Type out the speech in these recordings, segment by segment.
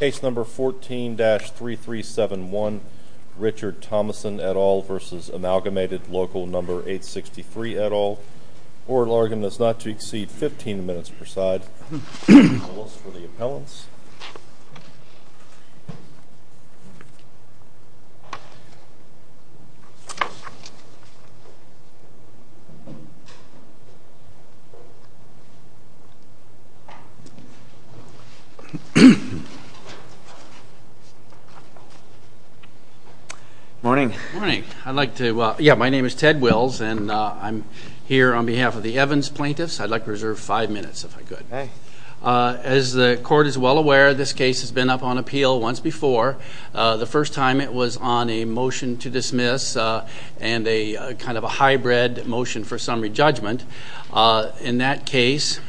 Case No. 14-3371 Richard Thomason et al. v. Amalgamated Local No. 863 et al. Court will argue that it is not to exceed 15 minutes per side. Appeals for the appellants. Morning. Morning. I'd like to, yeah, my name is Ted Wills and I'm here on behalf of the Evans plaintiffs. I'd like to reserve five minutes if I could. As the court is well aware, this case has been up on appeal once before. The first time it was on a motion to dismiss and a kind of a hybrid motion for summary judgment. In that case,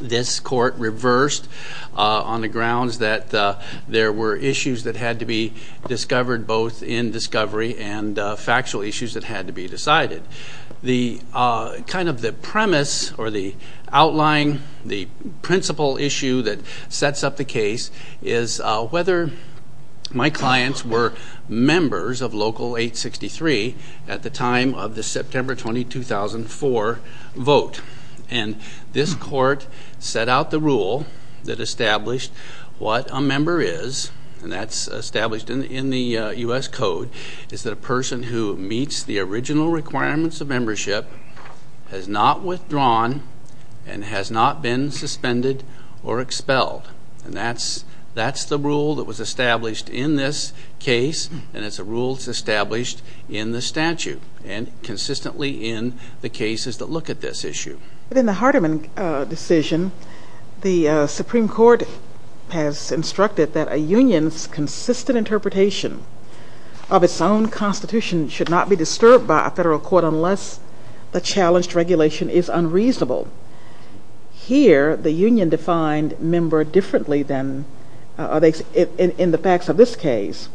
this court reversed on the grounds that there were issues that had to be discovered, both in discovery and factual issues that had to be decided. The kind of the premise or the outline, the principal issue that sets up the case, is whether my clients were members of Local 863 at the time of the September 20, 2004 vote. And this court set out the rule that established what a member is, and that's established in the U.S. Code, is that a person who meets the original requirements of membership has not withdrawn and has not been suspended or expelled. And that's the rule that was established in this case, and it's a rule that's established in the statute and consistently in the cases that look at this issue. But in the Hardeman decision, the Supreme Court has instructed that a union's consistent interpretation of its own constitution should not be disturbed by a federal court unless the challenged regulation is unreasonable. Here, the union defined member differently than in the facts of this case.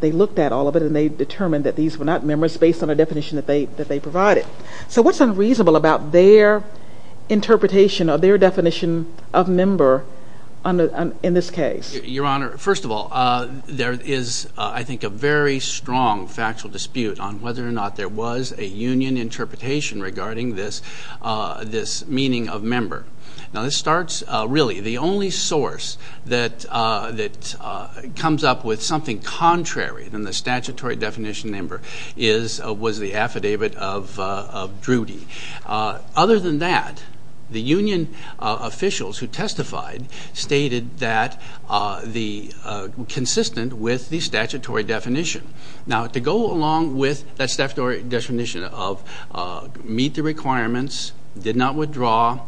They looked at all of it and they determined that these were not members based on a definition that they provided. So what's unreasonable about their interpretation or their definition of member in this case? Your Honor, first of all, there is, I think, a very strong factual dispute on whether or not there was a union interpretation regarding this meaning of member. Now this starts, really, the only source that comes up with something contrary than the statutory definition of member was the affidavit of Drudy. Other than that, the union officials who testified stated that the consistent with the statutory definition. Now to go along with that statutory definition of meet the requirements, did not withdraw,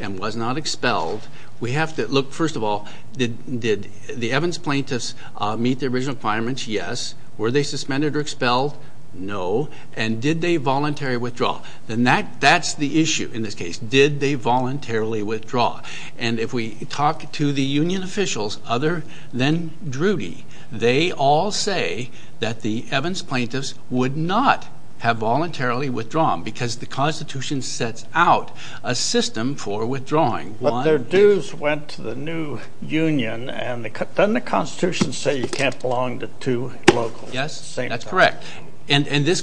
and was not expelled, we have to look, first of all, did the Evans plaintiffs meet the original requirements? Yes. Were they suspended or expelled? No. And did they voluntarily withdraw? Then that's the issue in this case. Did they voluntarily withdraw? And if we talk to the union officials other than Drudy, they all say that the Evans plaintiffs would not have voluntarily withdrawn because the constitution sets out a system for withdrawing. But their dues went to the new union, and doesn't the constitution say you can't belong to two locals at the same time? Yes, that's correct. And this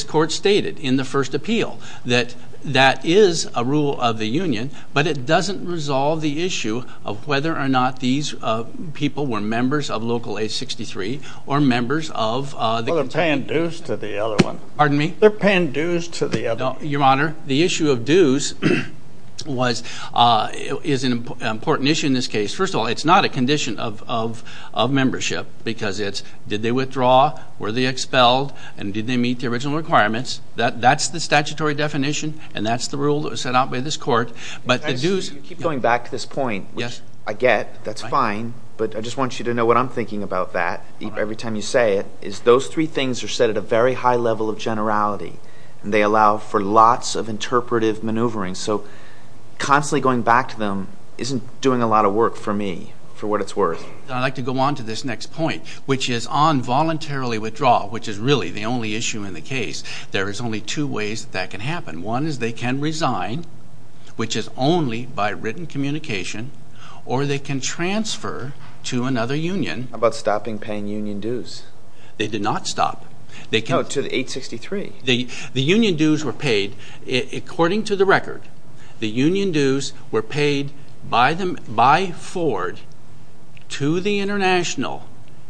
court stated in the first appeal that that is a rule of the union, but it doesn't resolve the issue of whether or not these people were members of Local 863 or members of the... Well, they're paying dues to the other one. Pardon me? They're paying dues to the other one. Your Honor, the issue of dues is an important issue in this case. First of all, it's not a condition of membership because it's did they withdraw, were they expelled, and did they meet the original requirements. That's the statutory definition, and that's the rule that was set out by this court. But the dues... You keep going back to this point, which I get, that's fine, but I just want you to know what I'm thinking about that every time you say it, is those three things are set at a very high level of generality, and they allow for lots of interpretive maneuvering. So constantly going back to them isn't doing a lot of work for me, for what it's worth. I'd like to go on to this next point, which is on voluntarily withdrawal, which is really the only issue in the case. There is only two ways that that can happen. One is they can resign, which is only by written communication, or they can transfer to another union. How about stopping paying union dues? They did not stop. No, to 863. The union dues were paid. According to the record, the union dues were paid by Ford to the international,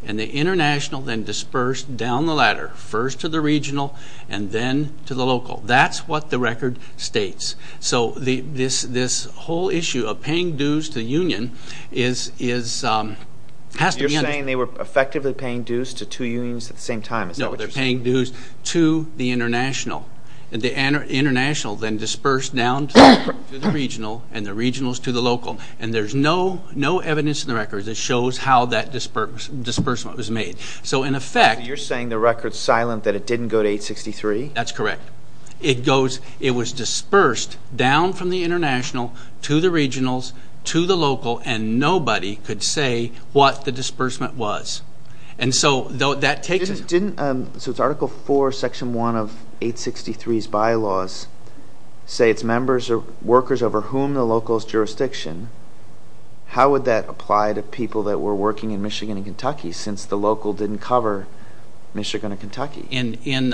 and the international then dispersed down the ladder, first to the regional and then to the local. That's what the record states. So this whole issue of paying dues to the union has to be understood. You're saying they were effectively paying dues to two unions at the same time. No, they're paying dues to the international. The international then dispersed down to the regional and the regionals to the local. And there's no evidence in the record that shows how that disbursement was made. So in effect you're saying the record's silent that it didn't go to 863? That's correct. It was dispersed down from the international to the regionals to the local, and nobody could say what the disbursement was. So it's Article 4, Section 1 of 863's bylaws say it's members or workers over whom the local's jurisdiction. How would that apply to people that were working in Michigan and Kentucky since the local didn't cover Michigan and Kentucky? In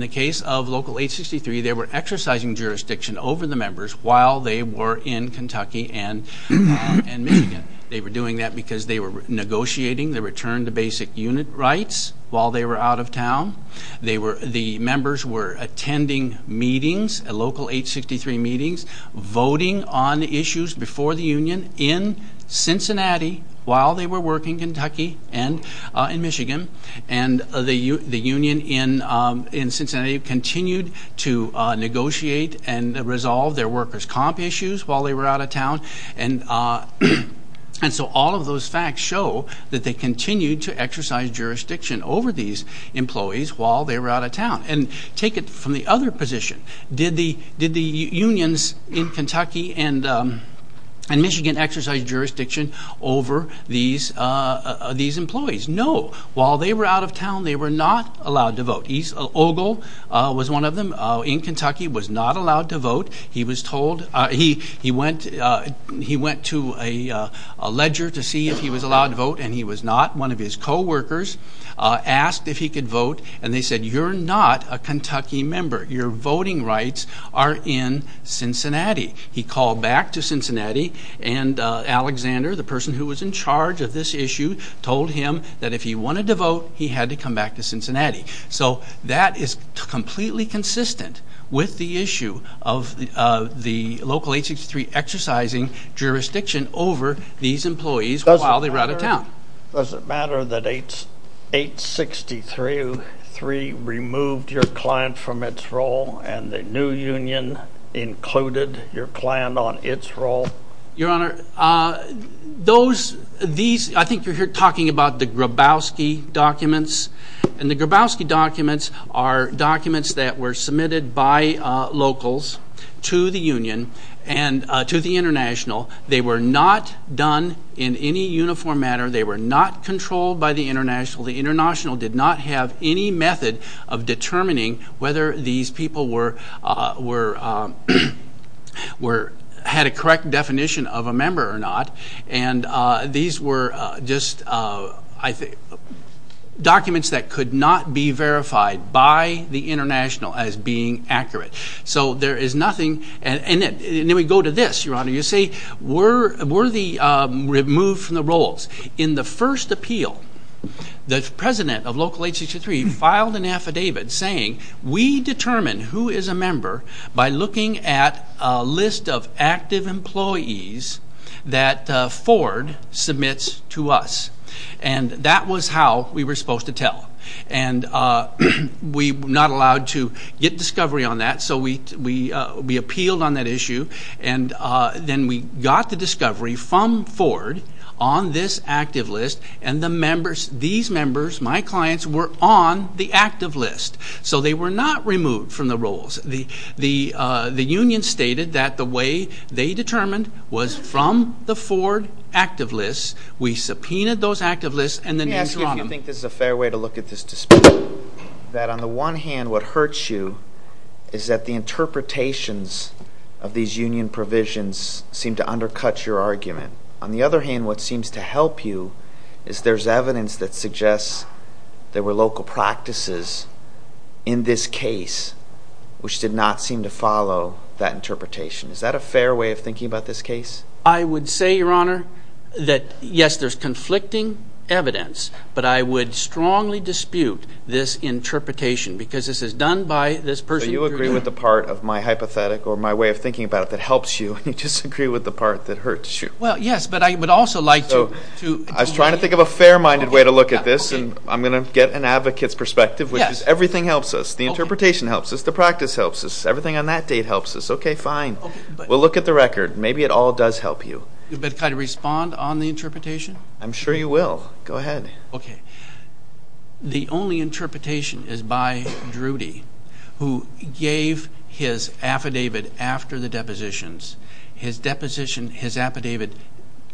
the case of Local 863, they were exercising jurisdiction over the members while they were in Kentucky and Michigan. They were doing that because they were negotiating the return to basic unit rights while they were out of town. The members were attending meetings, Local 863 meetings, voting on issues before the union in Cincinnati while they were working in Kentucky and Michigan. And the union in Cincinnati continued to negotiate and resolve their workers' comp issues while they were out of town. And so all of those facts show that they continued to exercise jurisdiction over these employees while they were out of town. And take it from the other position. Did the unions in Kentucky and Michigan exercise jurisdiction over these employees? No. While they were out of town, they were not allowed to vote. Ogle was one of them in Kentucky, was not allowed to vote. He went to a ledger to see if he was allowed to vote, and he was not. One of his co-workers asked if he could vote, and they said, you're not a Kentucky member. Your voting rights are in Cincinnati. He called back to Cincinnati, and Alexander, the person who was in charge of this issue, told him that if he wanted to vote, he had to come back to Cincinnati. So that is completely consistent with the issue of the local 863 exercising jurisdiction over these employees while they were out of town. Does it matter that 863 removed your client from its role and the new union included your client on its role? Your Honor, those, these, I think you're talking about the Grabowski documents, and the Grabowski documents are documents that were submitted by locals to the union and to the international. They were not done in any uniform manner. They were not controlled by the international. The international did not have any method of determining whether these people had a correct definition of a member or not, and these were just documents that could not be verified by the international as being accurate. So there is nothing, and then we go to this, Your Honor. You say, were they removed from the roles? In the first appeal, the president of local 863 filed an affidavit saying, we determine who is a member by looking at a list of active employees that Ford submits to us, and that was how we were supposed to tell. And we were not allowed to get discovery on that, so we appealed on that issue, and then we got the discovery from Ford on this active list, and these members, my clients, were on the active list. So they were not removed from the roles. The union stated that the way they determined was from the Ford active list. We subpoenaed those active lists, and then we threw them. Let me ask you if you think this is a fair way to look at this dispute, that on the one hand, what hurts you is that the interpretations of these union provisions seem to undercut your argument. On the other hand, what seems to help you is there's evidence that suggests there were local practices in this case which did not seem to follow that interpretation. Is that a fair way of thinking about this case? I would say, Your Honor, that, yes, there's conflicting evidence, but I would strongly dispute this interpretation because this is done by this person. So you agree with the part of my hypothetic or my way of thinking about it that helps you, but you disagree with the part that hurts you. Well, yes, but I would also like to. I was trying to think of a fair-minded way to look at this, and I'm going to get an advocate's perspective, which is everything helps us. The interpretation helps us. The practice helps us. Everything on that date helps us. Okay, fine. We'll look at the record. Maybe it all does help you. But can I respond on the interpretation? I'm sure you will. Go ahead. Okay. The only interpretation is by Drudy, who gave his affidavit after the depositions. His deposition, his affidavit,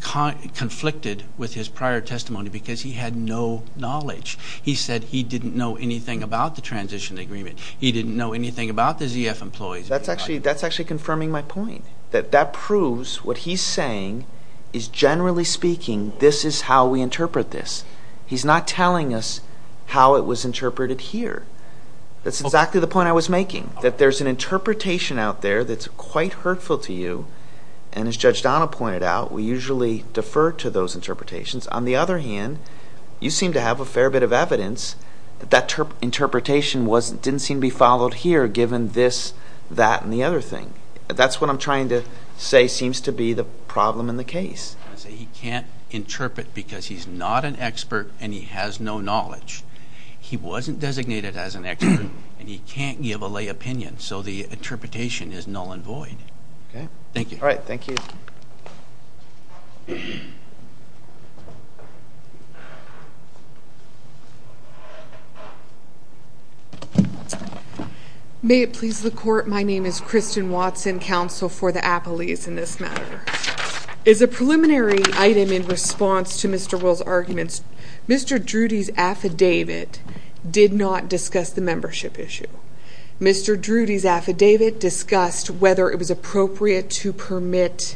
conflicted with his prior testimony because he had no knowledge. He said he didn't know anything about the transition agreement. He didn't know anything about the ZF employees. That's actually confirming my point. That proves what he's saying is, generally speaking, this is how we interpret this. He's not telling us how it was interpreted here. That's exactly the point I was making, that there's an interpretation out there that's quite hurtful to you, and as Judge Donnell pointed out, we usually defer to those interpretations. On the other hand, you seem to have a fair bit of evidence that that interpretation didn't seem to be followed here, given this, that, and the other thing. That's what I'm trying to say seems to be the problem in the case. He can't interpret because he's not an expert and he has no knowledge. He wasn't designated as an expert, and he can't give a lay opinion, so the interpretation is null and void. Thank you. All right. Thank you. May it please the Court. My name is Kristen Watson, Counsel for the Appellees in this matter. As a preliminary item in response to Mr. Will's arguments, Mr. Drudy's affidavit did not discuss the membership issue. Mr. Drudy's affidavit discussed whether it was appropriate to permit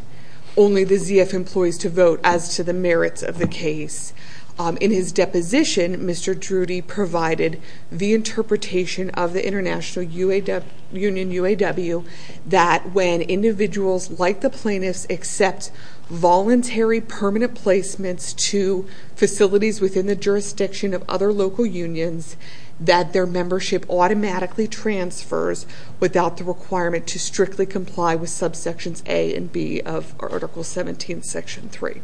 only the ZF employees to vote as to the merits of the case. In his deposition, Mr. Drudy provided the interpretation of the International Union UAW that when individuals like the plaintiffs accept voluntary permanent placements to facilities within the jurisdiction of other local unions, that their membership automatically transfers without the requirement to strictly comply with subsections A and B of Article 17, Section 3.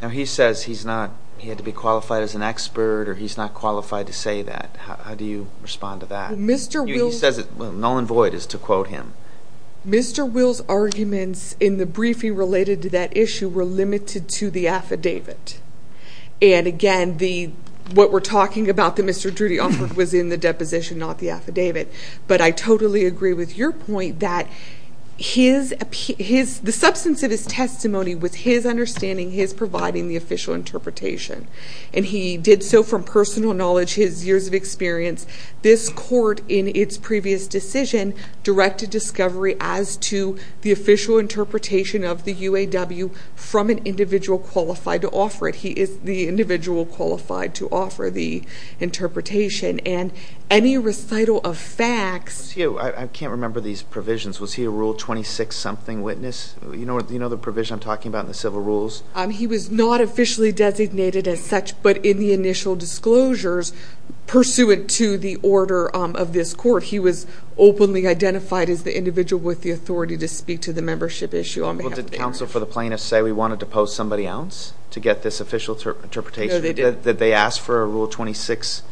Now he says he's not, he had to be qualified as an expert or he's not qualified to say that. How do you respond to that? Mr. Will's He says it, well, null and void is to quote him. Mr. Will's arguments in the briefing related to that issue were limited to the affidavit. And again, what we're talking about that Mr. Drudy offered was in the deposition, not the affidavit. But I totally agree with your point that the substance of his testimony was his understanding, his providing the official interpretation. And he did so from personal knowledge, his years of experience. This court in its previous decision directed discovery as to the official interpretation of the UAW from an individual qualified to offer it. He is the individual qualified to offer the interpretation. And any recital of facts I can't remember these provisions. Was he a Rule 26 something witness? Do you know the provision I'm talking about in the civil rules? He was not officially designated as such. But in the initial disclosures pursuant to the order of this court, he was openly identified as the individual with the authority to speak to the membership issue on behalf of the area. Did counsel for the plaintiff say we wanted to post somebody else to get this official interpretation? No, they didn't. Did they ask for a Rule 26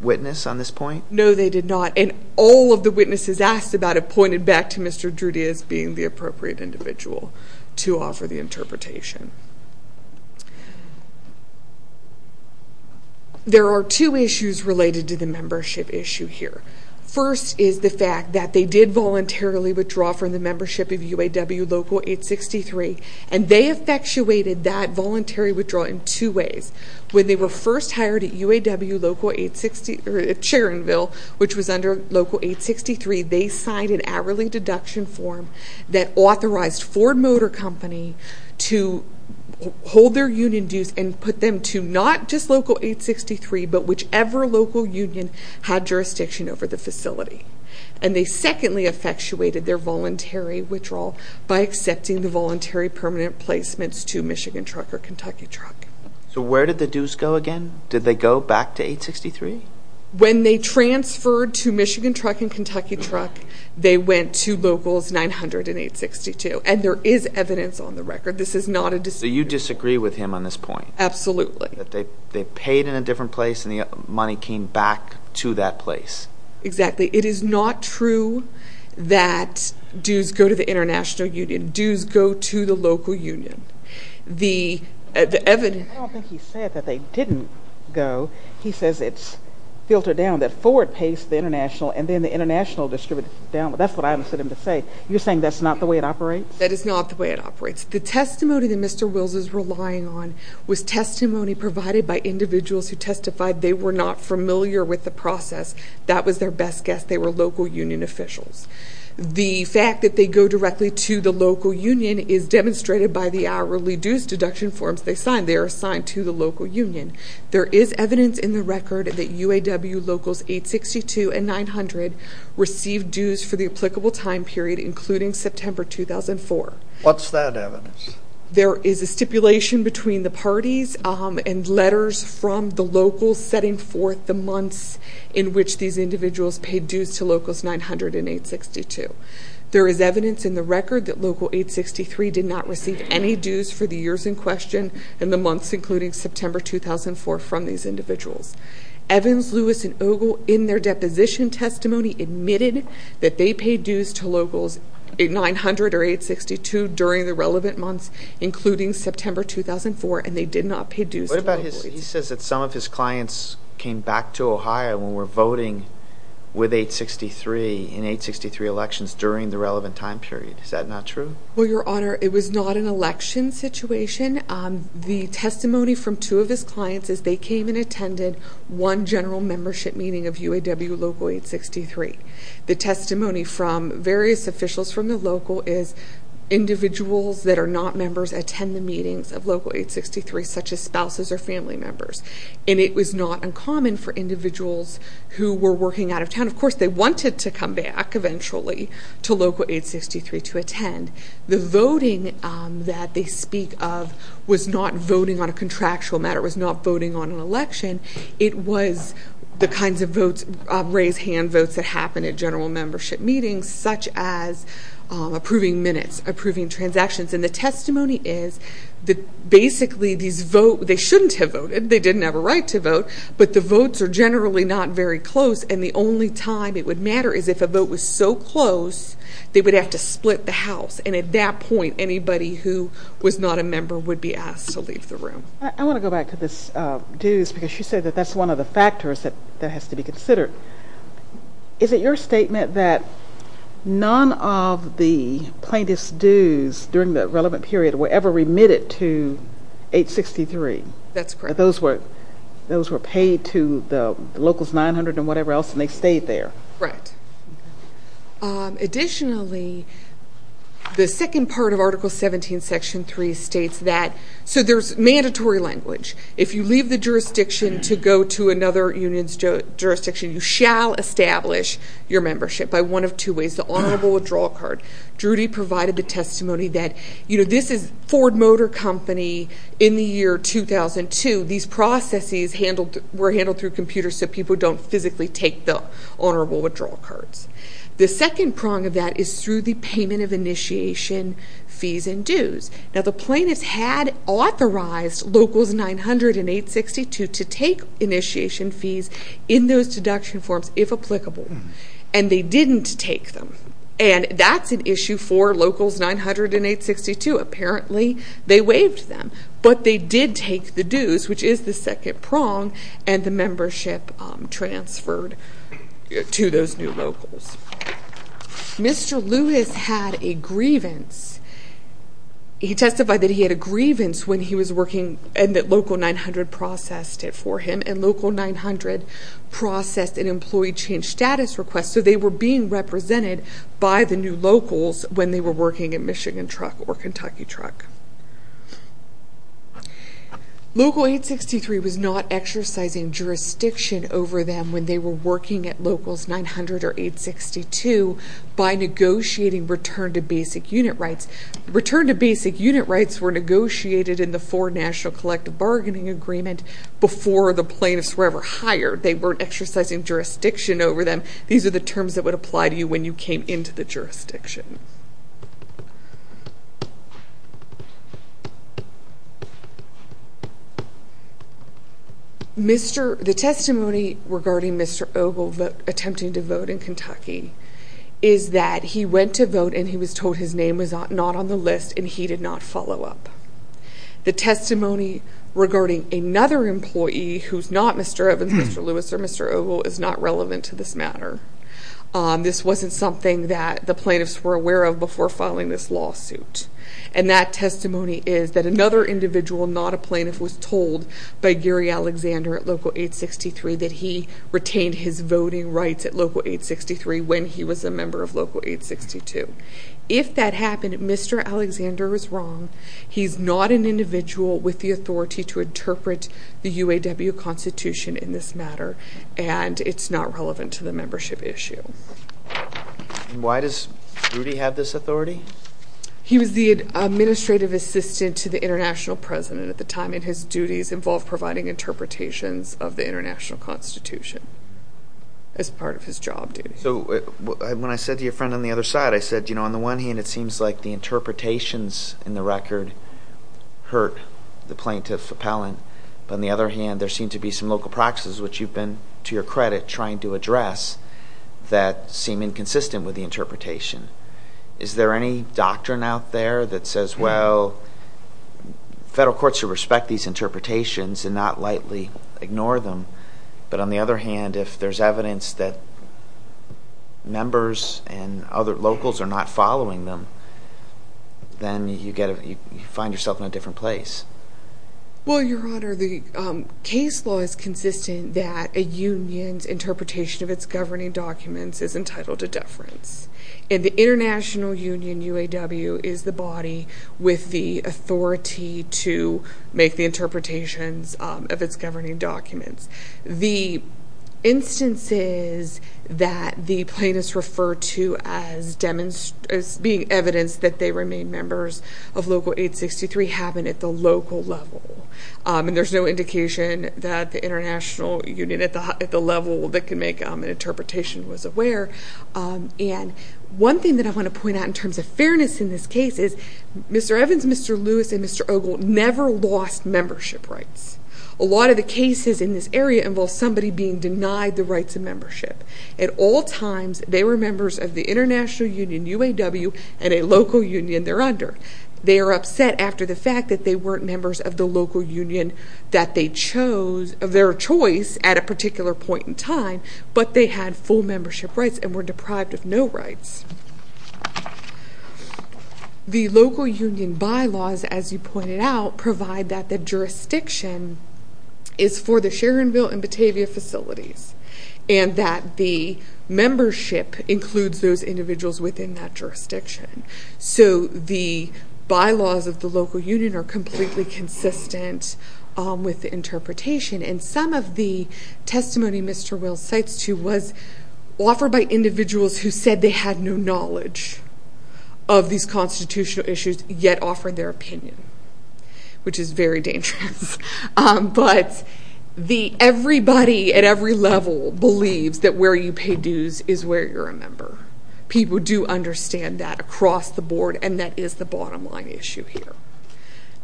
witness on this point? No, they did not. And all of the witnesses asked about it pointed back to Mr. Drudy as being the appropriate individual to offer the interpretation. There are two issues related to the membership issue here. First is the fact that they did voluntarily withdraw from the membership of UAW Local 863. And they effectuated that voluntary withdrawal in two ways. When they were first hired at UAW Charronville, which was under Local 863, they signed an hourly deduction form that authorized Ford Motor Company to hold their union dues and put them to not just Local 863, but whichever local union had jurisdiction over the facility. And they secondly effectuated their voluntary withdrawal by accepting the voluntary permanent placements to Michigan Truck or Kentucky Truck. So where did the dues go again? Did they go back to 863? When they transferred to Michigan Truck and Kentucky Truck, they went to Locals 900 and 862. And there is evidence on the record. This is not a dispute. So you disagree with him on this point? Absolutely. That they paid in a different place and the money came back to that place. Exactly. It is not true that dues go to the international union. Dues go to the local union. The evidence— I don't think he said that they didn't go. He says it's filtered down that Ford pays the international and then the international distributes it down. That's what I understood him to say. You're saying that's not the way it operates? That is not the way it operates. The testimony that Mr. Wills is relying on was testimony provided by individuals who testified they were not familiar with the process. That was their best guess. They were local union officials. The fact that they go directly to the local union is demonstrated by the hourly dues deduction forms they signed. They are assigned to the local union. There is evidence in the record that UAW Locals 862 and 900 received dues for the applicable time period, including September 2004. What's that evidence? There is a stipulation between the parties and letters from the locals setting forth the months in which these individuals paid dues to Locals 900 and 862. There is evidence in the record that Local 863 did not receive any dues for the years in question and the months, including September 2004, from these individuals. Evans, Lewis, and Ogle, in their deposition testimony, admitted that they paid dues to Locals 900 or 862 during the relevant months, including September 2004, and they did not pay dues to Locals. He says that some of his clients came back to Ohio and were voting with 863 in 863 elections during the relevant time period. Is that not true? Well, Your Honor, it was not an election situation. The testimony from two of his clients is they came and attended one general membership meeting of UAW Local 863. The testimony from various officials from the local is individuals that are not members attend the meetings of Local 863, such as spouses or family members, and it was not uncommon for individuals who were working out of town. Of course, they wanted to come back eventually to Local 863 to attend. The voting that they speak of was not voting on a contractual matter. It was not voting on an election. It was the kinds of votes, raise hand votes that happen at general membership meetings, such as approving minutes, approving transactions. And the testimony is that basically these vote, they shouldn't have voted. They didn't have a right to vote, but the votes are generally not very close, and the only time it would matter is if a vote was so close, they would have to split the house. And at that point, anybody who was not a member would be asked to leave the room. I want to go back to this dues because she said that that's one of the factors that has to be considered. Is it your statement that none of the plaintiff's dues during the relevant period were ever remitted to 863? That's correct. Those were paid to the Locals 900 and whatever else, and they stayed there. Right. Additionally, the second part of Article 17, Section 3 states that, so there's mandatory language. If you leave the jurisdiction to go to another union's jurisdiction, you shall establish your membership by one of two ways. The honorable withdrawal card. Drudy provided the testimony that, you know, this is Ford Motor Company in the year 2002. These processes were handled through computers so people don't physically take the honorable withdrawal cards. The second prong of that is through the payment of initiation fees and dues. Now, the plaintiffs had authorized Locals 900 and 862 to take initiation fees in those deduction forms if applicable, and they didn't take them, and that's an issue for Locals 900 and 862. Apparently, they waived them, but they did take the dues, which is the second prong, and the membership transferred to those new Locals. Mr. Lewis had a grievance. He testified that he had a grievance when he was working and that Local 900 processed it for him, and Local 900 processed an employee change status request, so they were being represented by the new Locals when they were working at Michigan Truck or Kentucky Truck. Local 863 was not exercising jurisdiction over them when they were working at Locals 900 or 862 by negotiating return to basic unit rights. Return to basic unit rights were negotiated in the foreign national collective bargaining agreement before the plaintiffs were ever hired. They weren't exercising jurisdiction over them. These are the terms that would apply to you when you came into the jurisdiction. The testimony regarding Mr. Ogle attempting to vote in Kentucky is that he went to vote and he was told his name was not on the list and he did not follow up. The testimony regarding another employee who's not Mr. Evans, Mr. Lewis, or Mr. Ogle is not relevant to this matter. This wasn't something that the plaintiffs were aware of before filing this lawsuit, and that testimony is that another individual, not a plaintiff, was told by Gary Alexander at Local 863 that he retained his voting rights at Local 863 when he was a member of Local 862. If that happened, Mr. Alexander was wrong. He's not an individual with the authority to interpret the UAW Constitution in this matter, and it's not relevant to the membership issue. Why does Rudy have this authority? He was the administrative assistant to the international president at the time, and his duties involved providing interpretations of the international constitution as part of his job duties. So when I said to your friend on the other side, I said, you know, on the one hand, it seems like the interpretations in the record hurt the plaintiff appellant, but on the other hand, there seem to be some local practices, which you've been, to your credit, trying to address that seem inconsistent with the interpretation. Is there any doctrine out there that says, well, federal courts should respect these interpretations and not lightly ignore them, but on the other hand, if there's evidence that members and other locals are not following them, then you find yourself in a different place. Well, Your Honor, the case law is consistent that a union's interpretation of its governing documents is entitled to deference, and the international union, UAW, is the body with the authority to make the interpretations of its governing documents. The instances that the plaintiffs refer to as being evidence that they remain members of Local 863 happen at the local level, and there's no indication that the international union at the level that can make an interpretation was aware. And one thing that I want to point out in terms of fairness in this case is Mr. Evans, Mr. Lewis, and Mr. Ogle never lost membership rights. A lot of the cases in this area involve somebody being denied the rights of membership. At all times, they were members of the international union, UAW, and a local union they're under. They are upset after the fact that they weren't members of the local union that they chose, at a particular point in time, but they had full membership rights and were deprived of no rights. The local union bylaws, as you pointed out, provide that the jurisdiction is for the Sharonville and Batavia facilities, and that the membership includes those individuals within that jurisdiction. So the bylaws of the local union are completely consistent with the interpretation, and some of the testimony Mr. Will cites to was offered by individuals who said they had no knowledge of these constitutional issues, yet offered their opinion, which is very dangerous. But everybody at every level believes that where you pay dues is where you're a member. People do understand that across the board, and that is the bottom line issue here.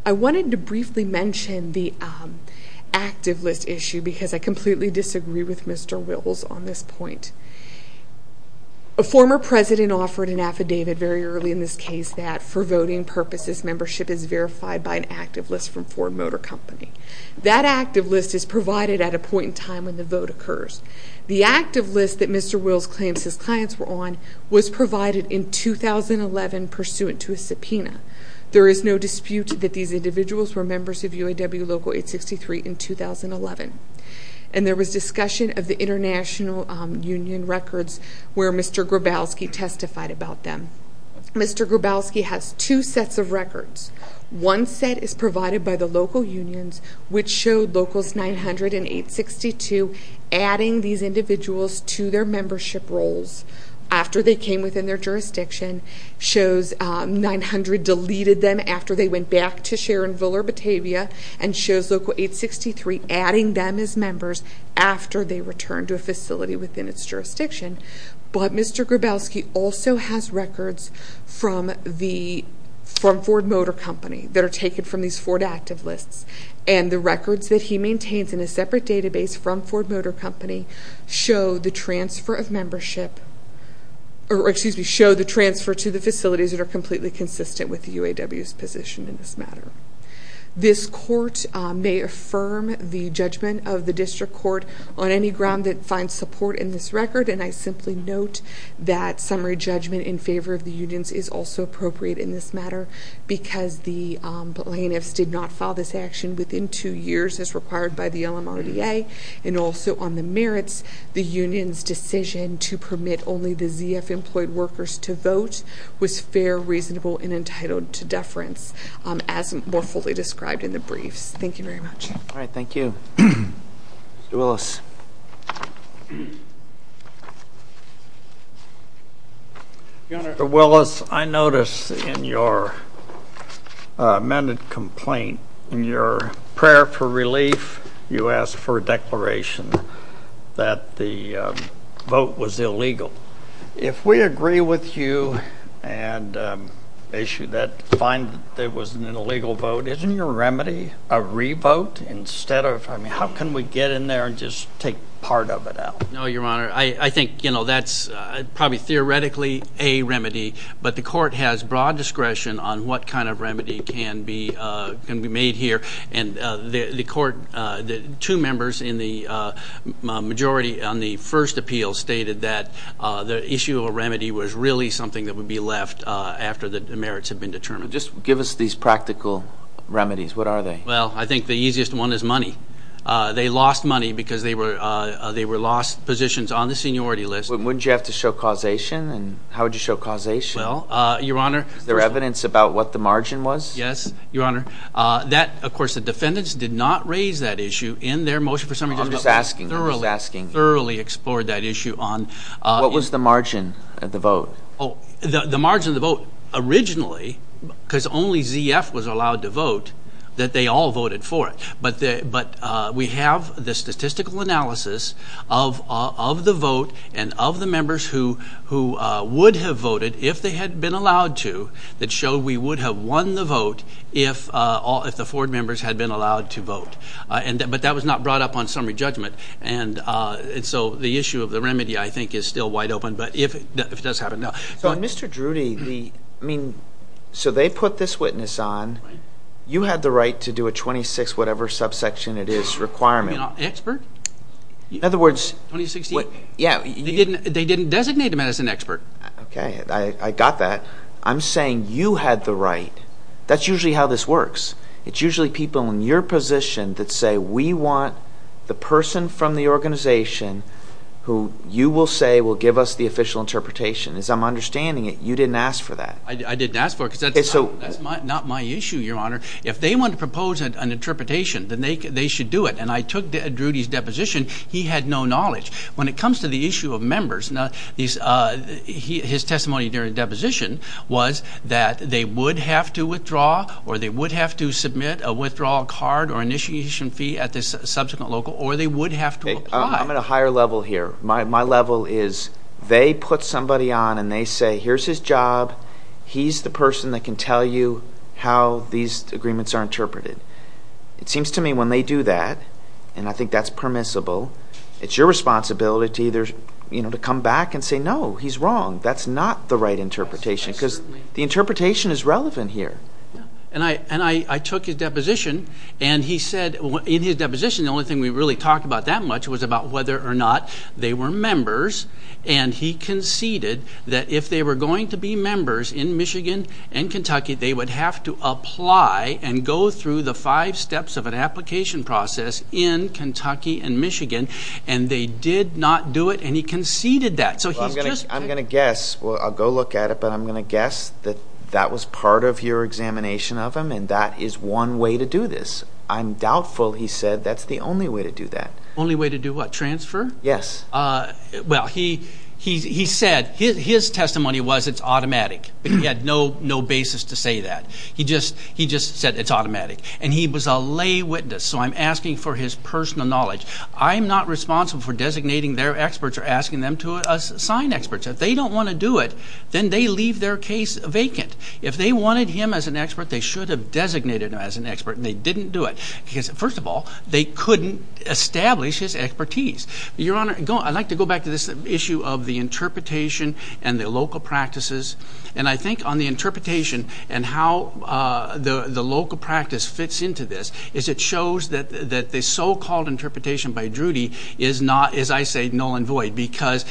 I wanted to briefly mention the active list issue because I completely disagree with Mr. Wills on this point. A former president offered an affidavit very early in this case that for voting purposes, membership is verified by an active list from Ford Motor Company. That active list is provided at a point in time when the vote occurs. The active list that Mr. Wills claims his clients were on was provided in 2011 pursuant to a subpoena. There is no dispute that these individuals were members of UAW Local 863 in 2011, and there was discussion of the international union records where Mr. Grabowski testified about them. Mr. Grabowski has two sets of records. One set is provided by the local unions, which showed Locals 900 and 862 adding these individuals to their membership roles after they came within their jurisdiction, shows 900 deleted them after they went back to Sharonville or Batavia, and shows Local 863 adding them as members after they returned to a facility within its jurisdiction. But Mr. Grabowski also has records from Ford Motor Company that are taken from these Ford active lists, and the records that he maintains in a separate database from Ford Motor Company show the transfer of membership, or excuse me, show the transfer to the facilities that are completely consistent with UAW's position in this matter. This court may affirm the judgment of the district court on any ground that finds support in this record, and I simply note that summary judgment in favor of the unions is also appropriate in this matter because the plaintiffs did not file this action within two years as required by the LMRDA, and also on the merits, the union's decision to permit only the ZF employed workers to vote was fair, reasonable, and entitled to deference as more fully described in the briefs. Thank you very much. All right, thank you. Mr. Willis. Your Honor, Mr. Willis, I notice in your amended complaint, in your prayer for relief, you asked for a declaration that the vote was illegal. If we agree with you and issue that, find that it was an illegal vote, isn't your remedy a re-vote instead of, I mean, how can we get in there and just take part of it out? No, Your Honor, I think, you know, that's probably theoretically a remedy, but the court has broad discretion on what kind of remedy can be made here, and the two members in the majority on the first appeal stated that the issue of a remedy was really something that would be left after the merits had been determined. Just give us these practical remedies. What are they? Well, I think the easiest one is money. They lost money because they were lost positions on the seniority list. Wouldn't you have to show causation? How would you show causation? Well, Your Honor. Is there evidence about what the margin was? Yes, Your Honor. That, of course, the defendants did not raise that issue in their motion for summary. I'm just asking. Thoroughly explored that issue. What was the margin of the vote? The margin of the vote originally, because only ZF was allowed to vote, that they all voted for it. But we have the statistical analysis of the vote and of the members who would have voted if they had been allowed to that showed we would have won the vote if the Ford members had been allowed to vote. But that was not brought up on summary judgment. And so the issue of the remedy, I think, is still wide open. But if it does happen, no. So, Mr. Drudy, I mean, so they put this witness on. You had the right to do a 26-whatever-subsection-it-is requirement. You know, expert. In other words, they didn't designate him as an expert. Okay. I got that. I'm saying you had the right. That's usually how this works. It's usually people in your position that say we want the person from the organization who you will say will give us the official interpretation. As I'm understanding it, you didn't ask for that. I didn't ask for it because that's not my issue, Your Honor. If they want to propose an interpretation, then they should do it. And I took Drudy's deposition. He had no knowledge. When it comes to the issue of members, his testimony during the deposition was that they would have to withdraw or they would have to submit a withdrawal card or initiation fee at the subsequent local or they would have to apply. I'm at a higher level here. My level is they put somebody on and they say here's his job. He's the person that can tell you how these agreements are interpreted. It seems to me when they do that, and I think that's permissible, it's your responsibility to either come back and say no, he's wrong. That's not the right interpretation because the interpretation is relevant here. And I took his deposition, and he said in his deposition the only thing we really talked about that much was about whether or not they were members. And he conceded that if they were going to be members in Michigan and Kentucky, they would have to apply and go through the five steps of an application process in Kentucky and Michigan. And they did not do it, and he conceded that. I'm going to guess. I'll go look at it, but I'm going to guess that that was part of your examination of him, and that is one way to do this. I'm doubtful, he said, that's the only way to do that. Only way to do what, transfer? Yes. Well, he said his testimony was it's automatic, but he had no basis to say that. He just said it's automatic. And he was a lay witness, so I'm asking for his personal knowledge. I'm not responsible for designating their experts or asking them to assign experts. If they don't want to do it, then they leave their case vacant. If they wanted him as an expert, they should have designated him as an expert, and they didn't do it. Because, first of all, they couldn't establish his expertise. Your Honor, I'd like to go back to this issue of the interpretation and the local practices. And I think on the interpretation and how the local practice fits into this is it shows that the so-called interpretation by Drudy is not, as I say, null and void. Because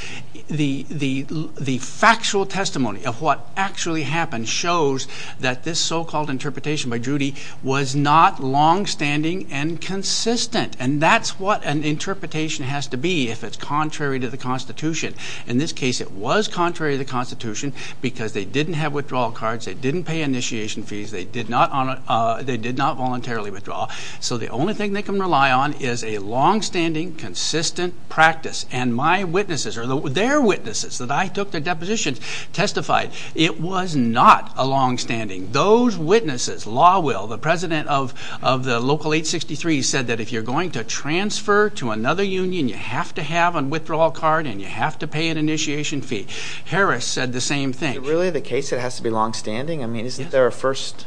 the factual testimony of what actually happened shows that this so-called interpretation by Drudy was not longstanding and consistent. And that's what an interpretation has to be if it's contrary to the Constitution. In this case, it was contrary to the Constitution because they didn't have withdrawal cards, they didn't pay initiation fees, they did not voluntarily withdraw. So the only thing they can rely on is a longstanding, consistent practice. And my witnesses or their witnesses that I took their depositions testified it was not a longstanding. Those witnesses, Law Will, the president of the local 863, said that if you're going to transfer to another union, you have to have a withdrawal card and you have to pay an initiation fee. Harris said the same thing. Is it really the case it has to be longstanding? I mean, isn't there a first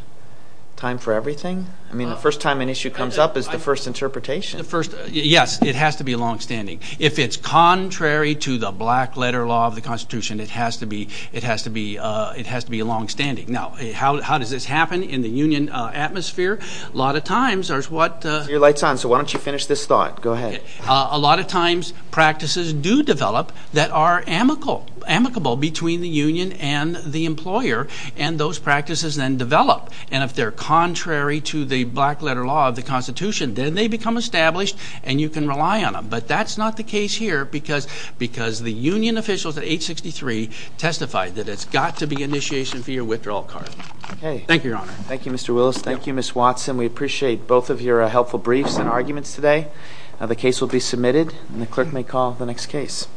time for everything? I mean, the first time an issue comes up is the first interpretation. Yes, it has to be longstanding. If it's contrary to the black-letter law of the Constitution, it has to be longstanding. Now, how does this happen in the union atmosphere? A lot of times, there's what – Your light's on, so why don't you finish this thought. Go ahead. A lot of times, practices do develop that are amicable between the union and the employer, and those practices then develop. And if they're contrary to the black-letter law of the Constitution, then they become established and you can rely on them. But that's not the case here because the union officials at 863 testified that it's got to be initiation fee or withdrawal card. Thank you, Your Honor. Thank you, Mr. Willis. Thank you, Ms. Watson. We appreciate both of your helpful briefs and arguments today. The case will be submitted, and the clerk may call the next case.